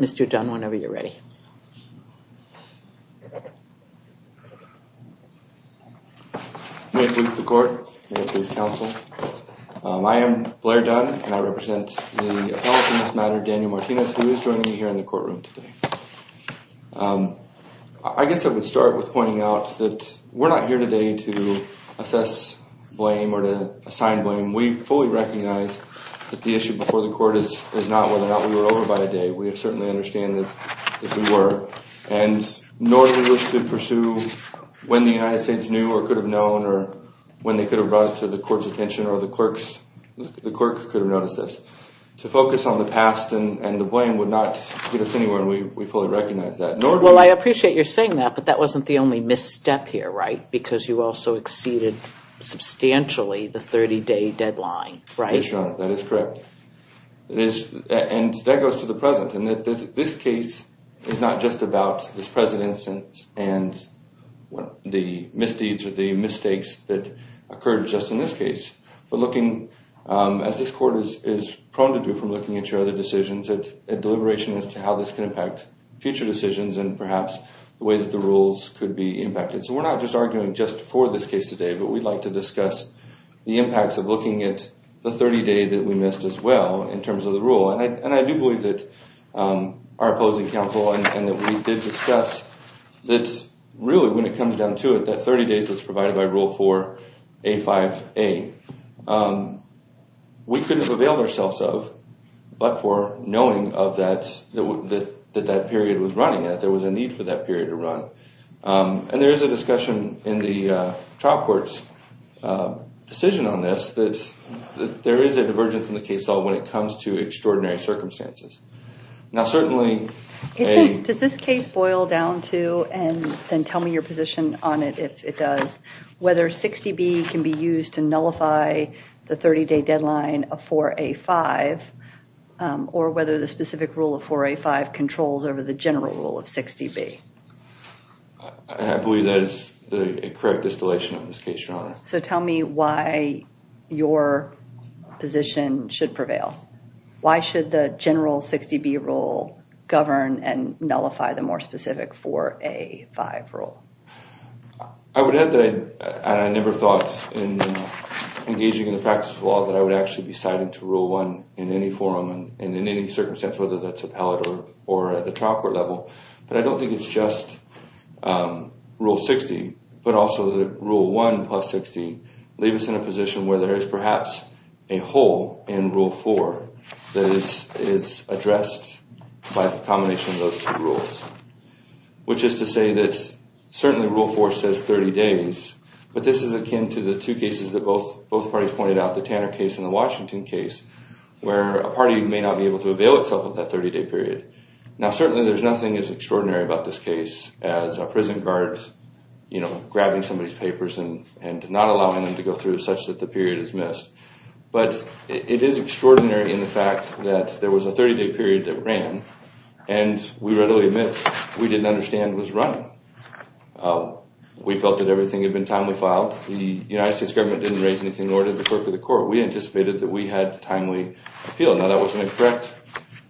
Mr. Dunn, whenever you're ready. May it please the court. May it please counsel. I am Blair Dunn, and I represent the appellate in this matter, Daniel Martinez, who is joining me here in the courtroom today. I guess I would start with pointing out that we're not here today to assess blame or to assign blame. We fully recognize that the issue before the court is not whether or not we were over by a day. We certainly understand that we were. And nor do we wish to pursue when the United States knew or could have known or when they could have brought it to the court's attention or the clerk's, the clerk could have noticed this. To focus on the past and the blame would not get us anywhere, and we fully recognize that. Well, I appreciate you're saying that, but that wasn't the only misstep here, right? Because you also exceeded substantially the 30-day deadline, right? Yes, Your Honor, that is correct. And that goes to the present. And this case is not just about this present instance and the misdeeds or the mistakes that occurred just in this case. But looking, as this court is prone to do from looking at your other decisions, at deliberation as to how this can impact future decisions and perhaps the way that the rules could be impacted. So we're not just arguing just for this case today, but we'd like to discuss the impacts of looking at the 30-day that we missed as well in terms of the rule. And I do believe that our opposing counsel and that we did discuss that really when it comes down to it, that 30 days that's provided by Rule 4A5A, we couldn't have availed ourselves of but for knowing that that period was running, that there was a need for that period to run. And there is a discussion in the trial court's decision on this, that there is a divergence in the case law when it comes to extraordinary circumstances. Does this case boil down to, and then tell me your position on it if it does, whether 60B can be used to nullify the 30-day deadline of 4A5 or whether the specific rule of 4A5 controls over the general rule of 60B? I believe that is the correct distillation of this case, Your Honor. So tell me why your position should prevail. Why should the general 60B rule govern and nullify the more specific 4A5 rule? I would add that I never thought in engaging in the practice of law that I would actually be citing to Rule 1 in any forum and in any circumstance, whether that's appellate or at the trial court level. But I don't think it's just Rule 60, but also that Rule 1 plus 60 leaves us in a position where there is perhaps a hole in Rule 4 that is addressed by the combination of those two rules. Which is to say that certainly Rule 4 says 30 days, but this is akin to the two cases that both parties pointed out, the Tanner case and the Washington case, where a party may not be able to avail itself of that 30-day period. Now certainly there's nothing as extraordinary about this case as a prison guard grabbing somebody's papers and not allowing them to go through such that the period is missed. But it is extraordinary in the fact that there was a 30-day period that ran and we readily admit we didn't understand was running. We felt that everything had been timely filed. The United States government didn't raise anything nor did the clerk of the court. We anticipated that we had timely appeal. Now that wasn't a correct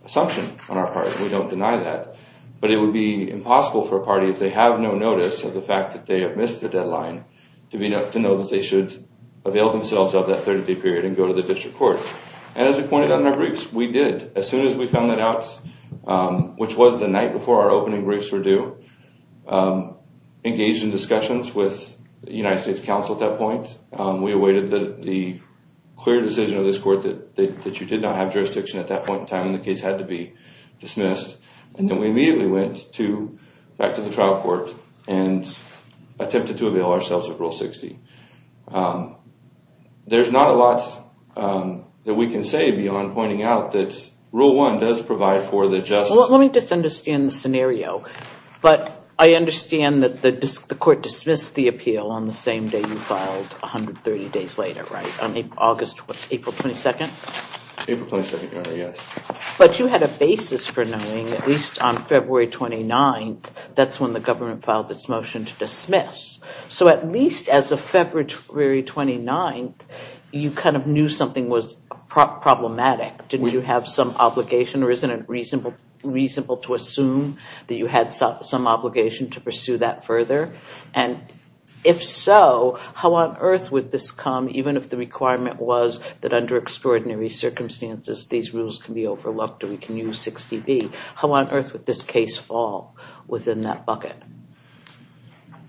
assumption on our part. We don't deny that. But it would be impossible for a party, if they have no notice of the fact that they have missed the deadline, to know that they should avail themselves of that 30-day period and go to the district court. And as we pointed out in our briefs, we did. As soon as we found that out, which was the night before our opening briefs were due, engaged in discussions with the United States counsel at that point. We awaited the clear decision of this court that you did not have jurisdiction at that point in time and the case had to be dismissed. And then we immediately went back to the trial court and attempted to avail ourselves of Rule 60. There's not a lot that we can say beyond pointing out that Rule 1 does provide for the justice... But you had a basis for knowing, at least on February 29th, that's when the government filed its motion to dismiss. So at least as of February 29th, you kind of knew something was problematic. Did you have some obligation or isn't it reasonable to assume that you had some obligation to pursue that further? And if so, how on earth would this come, even if the requirement was that under extraordinary circumstances, these rules can be overlooked or we can use 60B? How on earth would this case fall within that bucket?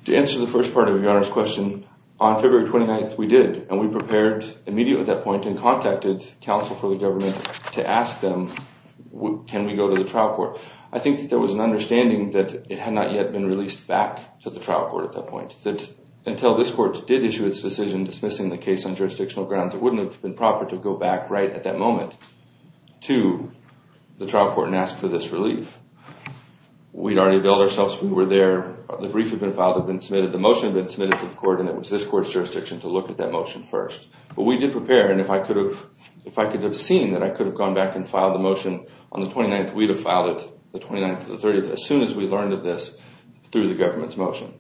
To answer the first part of your Honor's question, on February 29th, we did. And we prepared immediately at that point and contacted counsel for the government to ask them, can we go to the trial court? I think that there was an understanding that it had not yet been released back to the trial court at that point, that until this court did issue its decision dismissing the case on jurisdictional grounds, it wouldn't have been proper to go back right at that moment to the trial court and ask for this relief. We'd already availed ourselves, we were there, the brief had been filed, had been submitted, the motion had been submitted to the court, and it was this court's jurisdiction to look at that motion first. But we did prepare, and if I could have seen that I could have gone back and filed the motion on the 29th, we'd have filed it the 29th or the 30th as soon as we learned of this through the government's motion.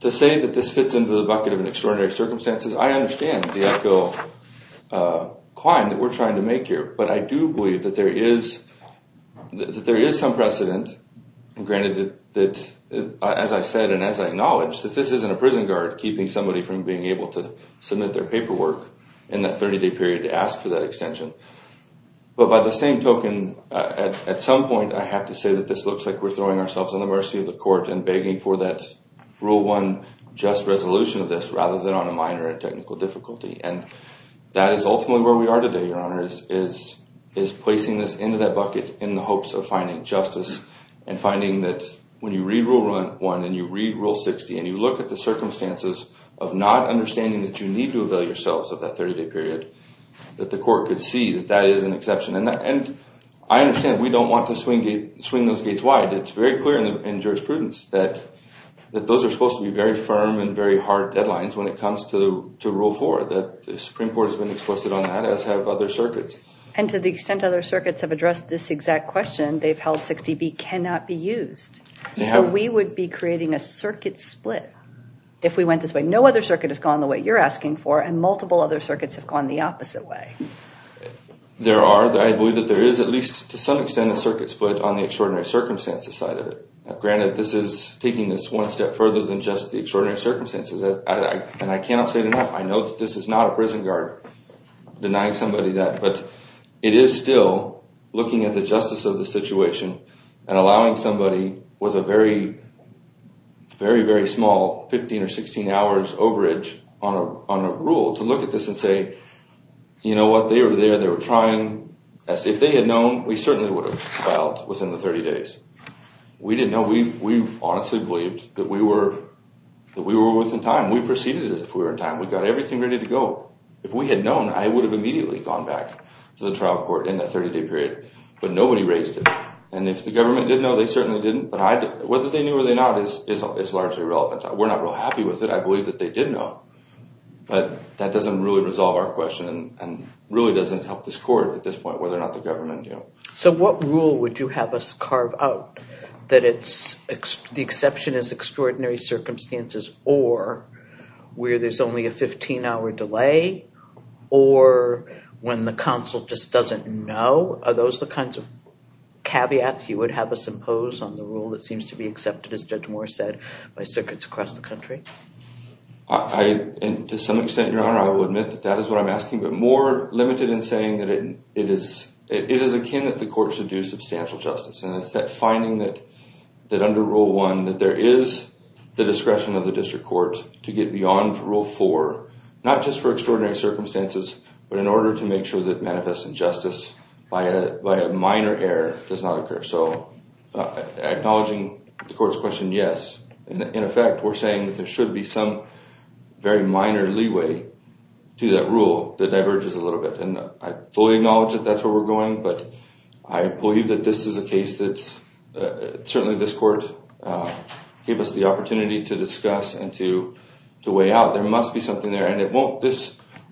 To say that this fits into the bucket of extraordinary circumstances, I understand the uphill climb that we're trying to make here, but I do believe that there is some precedent, and granted that, as I said and as I acknowledged, that this isn't a prison guard keeping somebody from being able to submit their paperwork in that 30-day period to ask for that extension. But by the same token, at some point I have to say that this looks like we're throwing ourselves on the mercy of the court and begging for that Rule 1 just resolution of this rather than on a minor technical difficulty. And that is ultimately where we are today, Your Honor, is placing this into that bucket in the hopes of finding justice and finding that when you read Rule 1 and you read Rule 60 and you look at the circumstances of not understanding that you need to avail yourselves of that 30-day period, that the court could see that that is an exception. And I understand we don't want to swing those gates wide. It's very clear in jurisprudence that those are supposed to be very firm and very hard deadlines when it comes to Rule 4, that the Supreme Court has been explicit on that, as have other circuits. And to the extent other circuits have addressed this exact question, they've held 60B cannot be used. So we would be creating a circuit split if we went this way. No other circuit has gone the way you're asking for, and multiple other circuits have gone the opposite way. There are. I believe that there is at least to some extent a circuit split on the extraordinary circumstances side of it. Granted, this is taking this one step further than just the extraordinary circumstances. And I cannot say it enough. I know that this is not a prison guard denying somebody that, but it is still looking at the justice of the situation and allowing somebody with a very, very, very small 15 or 16 hours overage on a rule to look at this and say, you know what, they were there, they were trying. If they had known, we certainly would have filed within the 30 days. We didn't know. We honestly believed that we were within time. We proceeded as if we were in time. We got everything ready to go. If we had known, I would have immediately gone back to the trial court in that 30-day period. But nobody raised it. And if the government did know, they certainly didn't. But whether they knew or they not is largely irrelevant. We're not real happy with it. I believe that they did know. But that doesn't really resolve our question and really doesn't help this court at this point, whether or not the government do. So what rule would you have us carve out that the exception is extraordinary circumstances or where there's only a 15-hour delay or when the counsel just doesn't know? Are those the kinds of caveats you would have us impose on the rule that seems to be accepted, as Judge Moore said, by circuits across the country? To some extent, Your Honor, I will admit that that is what I'm asking, but more limited in saying that it is akin that the court should do substantial justice. And it's that finding that under Rule 1 that there is the discretion of the district court to get beyond Rule 4, not just for extraordinary circumstances, but in order to make sure that manifest injustice by a minor error does not occur. So acknowledging the court's question, yes. In effect, we're saying that there should be some very minor leeway to that rule that diverges a little bit. And I fully acknowledge that that's where we're going. But I believe that this is a case that certainly this court gave us the opportunity to discuss and to weigh out. There must be something there. And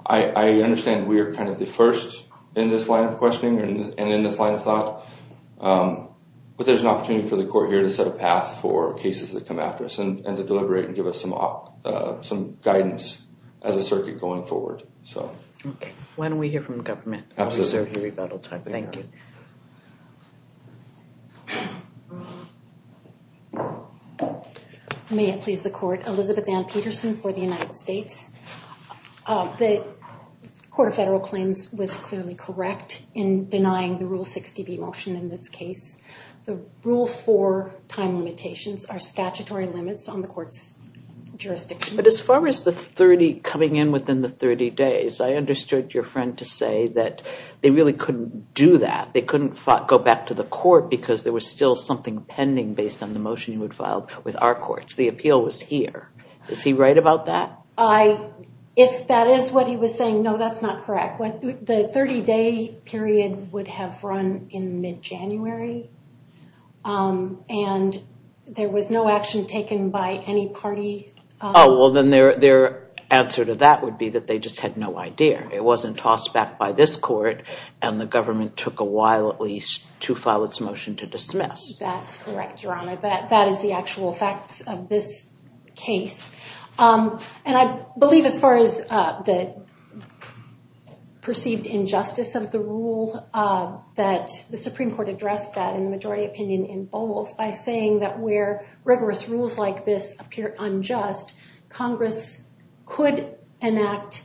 I understand we are kind of the first in this line of questioning and in this line of thought. But there's an opportunity for the court here to set a path for cases that come after us and to deliberate and give us some guidance as a circuit going forward. Okay. Why don't we hear from the government? Absolutely. Thank you. May it please the court, Elizabeth Ann Peterson for the United States. The Court of Federal Claims was clearly correct in denying the Rule 60B motion in this case. The Rule 4 time limitations are statutory limits on the court's jurisdiction. But as far as the 30 coming in within the 30 days, I understood your friend to say that they really couldn't do that. They couldn't go back to the court because there was still something pending based on the motion you had filed with our courts. The appeal was here. Is he right about that? If that is what he was saying, no, that's not correct. The 30-day period would have run in mid-January and there was no action taken by any party. Oh, well, then their answer to that would be that they just had no idea. It wasn't tossed back by this court and the government took a while at least to file its motion to dismiss. That's correct, Your Honor. That is the actual facts of this case. And I believe as far as the perceived injustice of the rule that the Supreme Court addressed that in the majority opinion in Bowles by saying that where rigorous rules like this appear unjust, Congress could enact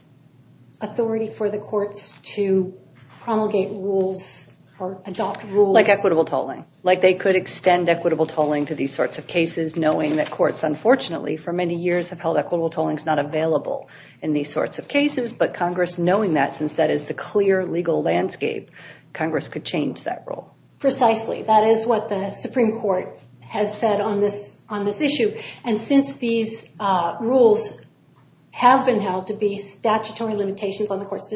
authority for the courts to promulgate rules or adopt rules. Like equitable tolling. Like they could extend equitable tolling to these sorts of cases knowing that courts unfortunately for many years have held equitable tolling is not available in these sorts of cases. But Congress knowing that since that is the clear legal landscape, Congress could change that rule. Precisely. That is what the Supreme Court has said on this issue. And since these rules have been held to be statutory limitations on the court's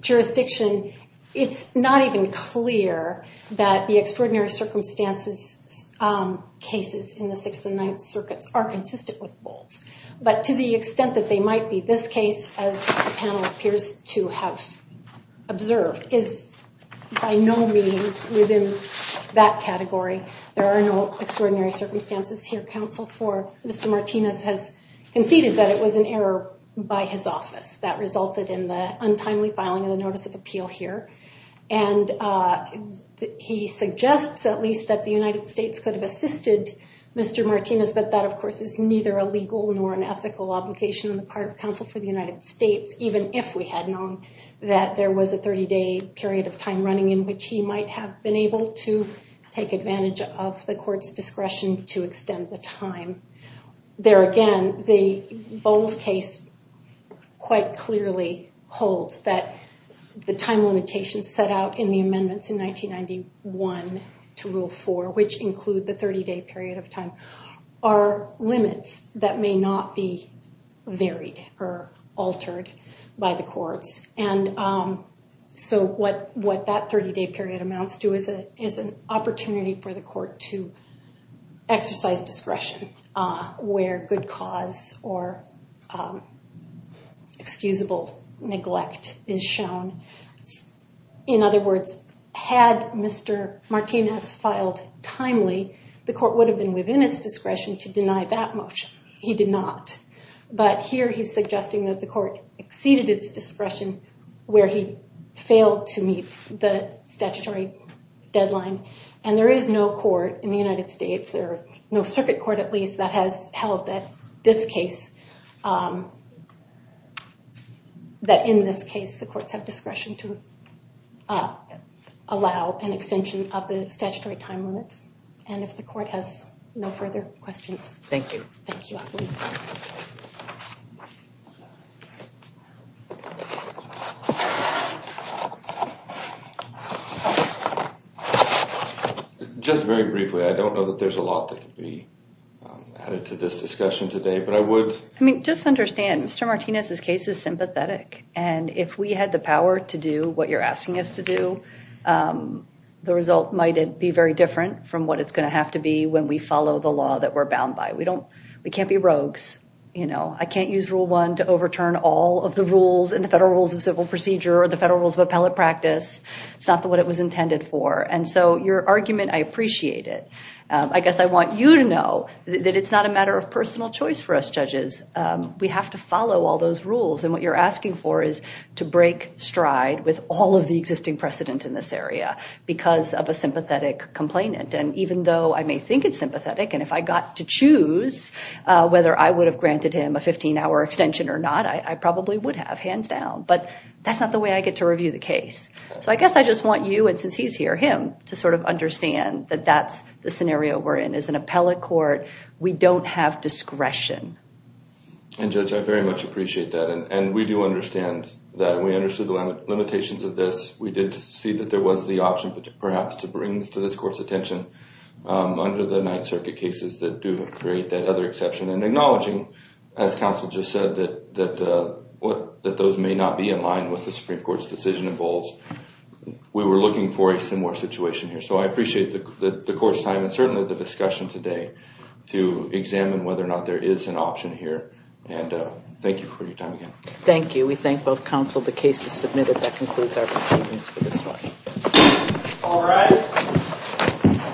jurisdiction, it's not even clear that the extraordinary circumstances cases in the Sixth and Ninth Circuits are consistent with Bowles. But to the extent that they might be, this case, as the panel appears to have observed, is by no means within that category. There are no extraordinary circumstances here. And the part of counsel for Mr. Martinez has conceded that it was an error by his office. That resulted in the untimely filing of the notice of appeal here. And he suggests at least that the United States could have assisted Mr. Martinez. But that, of course, is neither a legal nor an ethical obligation on the part of counsel for the United States, even if we had known that there was a 30-day period of time running in which he might have been able to take advantage of the court's discretion to extend the time. There again, the Bowles case quite clearly holds that the time limitations set out in the amendments in 1991 to Rule 4, which include the 30-day period of time, are limits that may not be varied or altered by the courts. And so what that 30-day period amounts to is an opportunity for the court to exercise discretion where good cause or excusable neglect is shown. In other words, had Mr. Martinez filed timely, the court would have been within its discretion to deny that motion. He did not. But here he's suggesting that the court exceeded its discretion where he failed to meet the statutory deadline. And there is no court in the United States, or no circuit court at least, that has held that in this case the courts have discretion to allow an extension of the statutory time limits. And if the court has no further questions. Thank you. Just very briefly, I don't know that there's a lot that could be added to this discussion today, but I would... We can't be rogues. I can't use Rule 1 to overturn all of the rules in the Federal Rules of Civil Procedure or the Federal Rules of Appellate Practice. It's not what it was intended for. And so your argument, I appreciate it. I guess I want you to know that it's not a matter of personal choice for us judges. We have to follow all those rules. And what you're asking for is to break stride with all of the existing precedent in this area because of a sympathetic complainant. And even though I may think it's sympathetic, and if I got to choose whether I would have granted him a 15-hour extension or not, I probably would have, hands down. But that's not the way I get to review the case. So I guess I just want you, and since he's here, him, to sort of understand that that's the scenario we're in. As an appellate court, we don't have discretion. And Judge, I very much appreciate that. And we do understand that. And we understood the limitations of this. We did see that there was the option perhaps to bring this to this Court's attention under the Ninth Circuit cases that do create that other exception. And acknowledging, as Counsel just said, that those may not be in line with the Supreme Court's decision in Bowles, we were looking for a similar situation here. So I appreciate the Court's time and certainly the discussion today to examine whether or not there is an option here. And thank you for your time again. Thank you. We thank both Counsel. The case is submitted. That concludes our proceedings for this morning. All rise.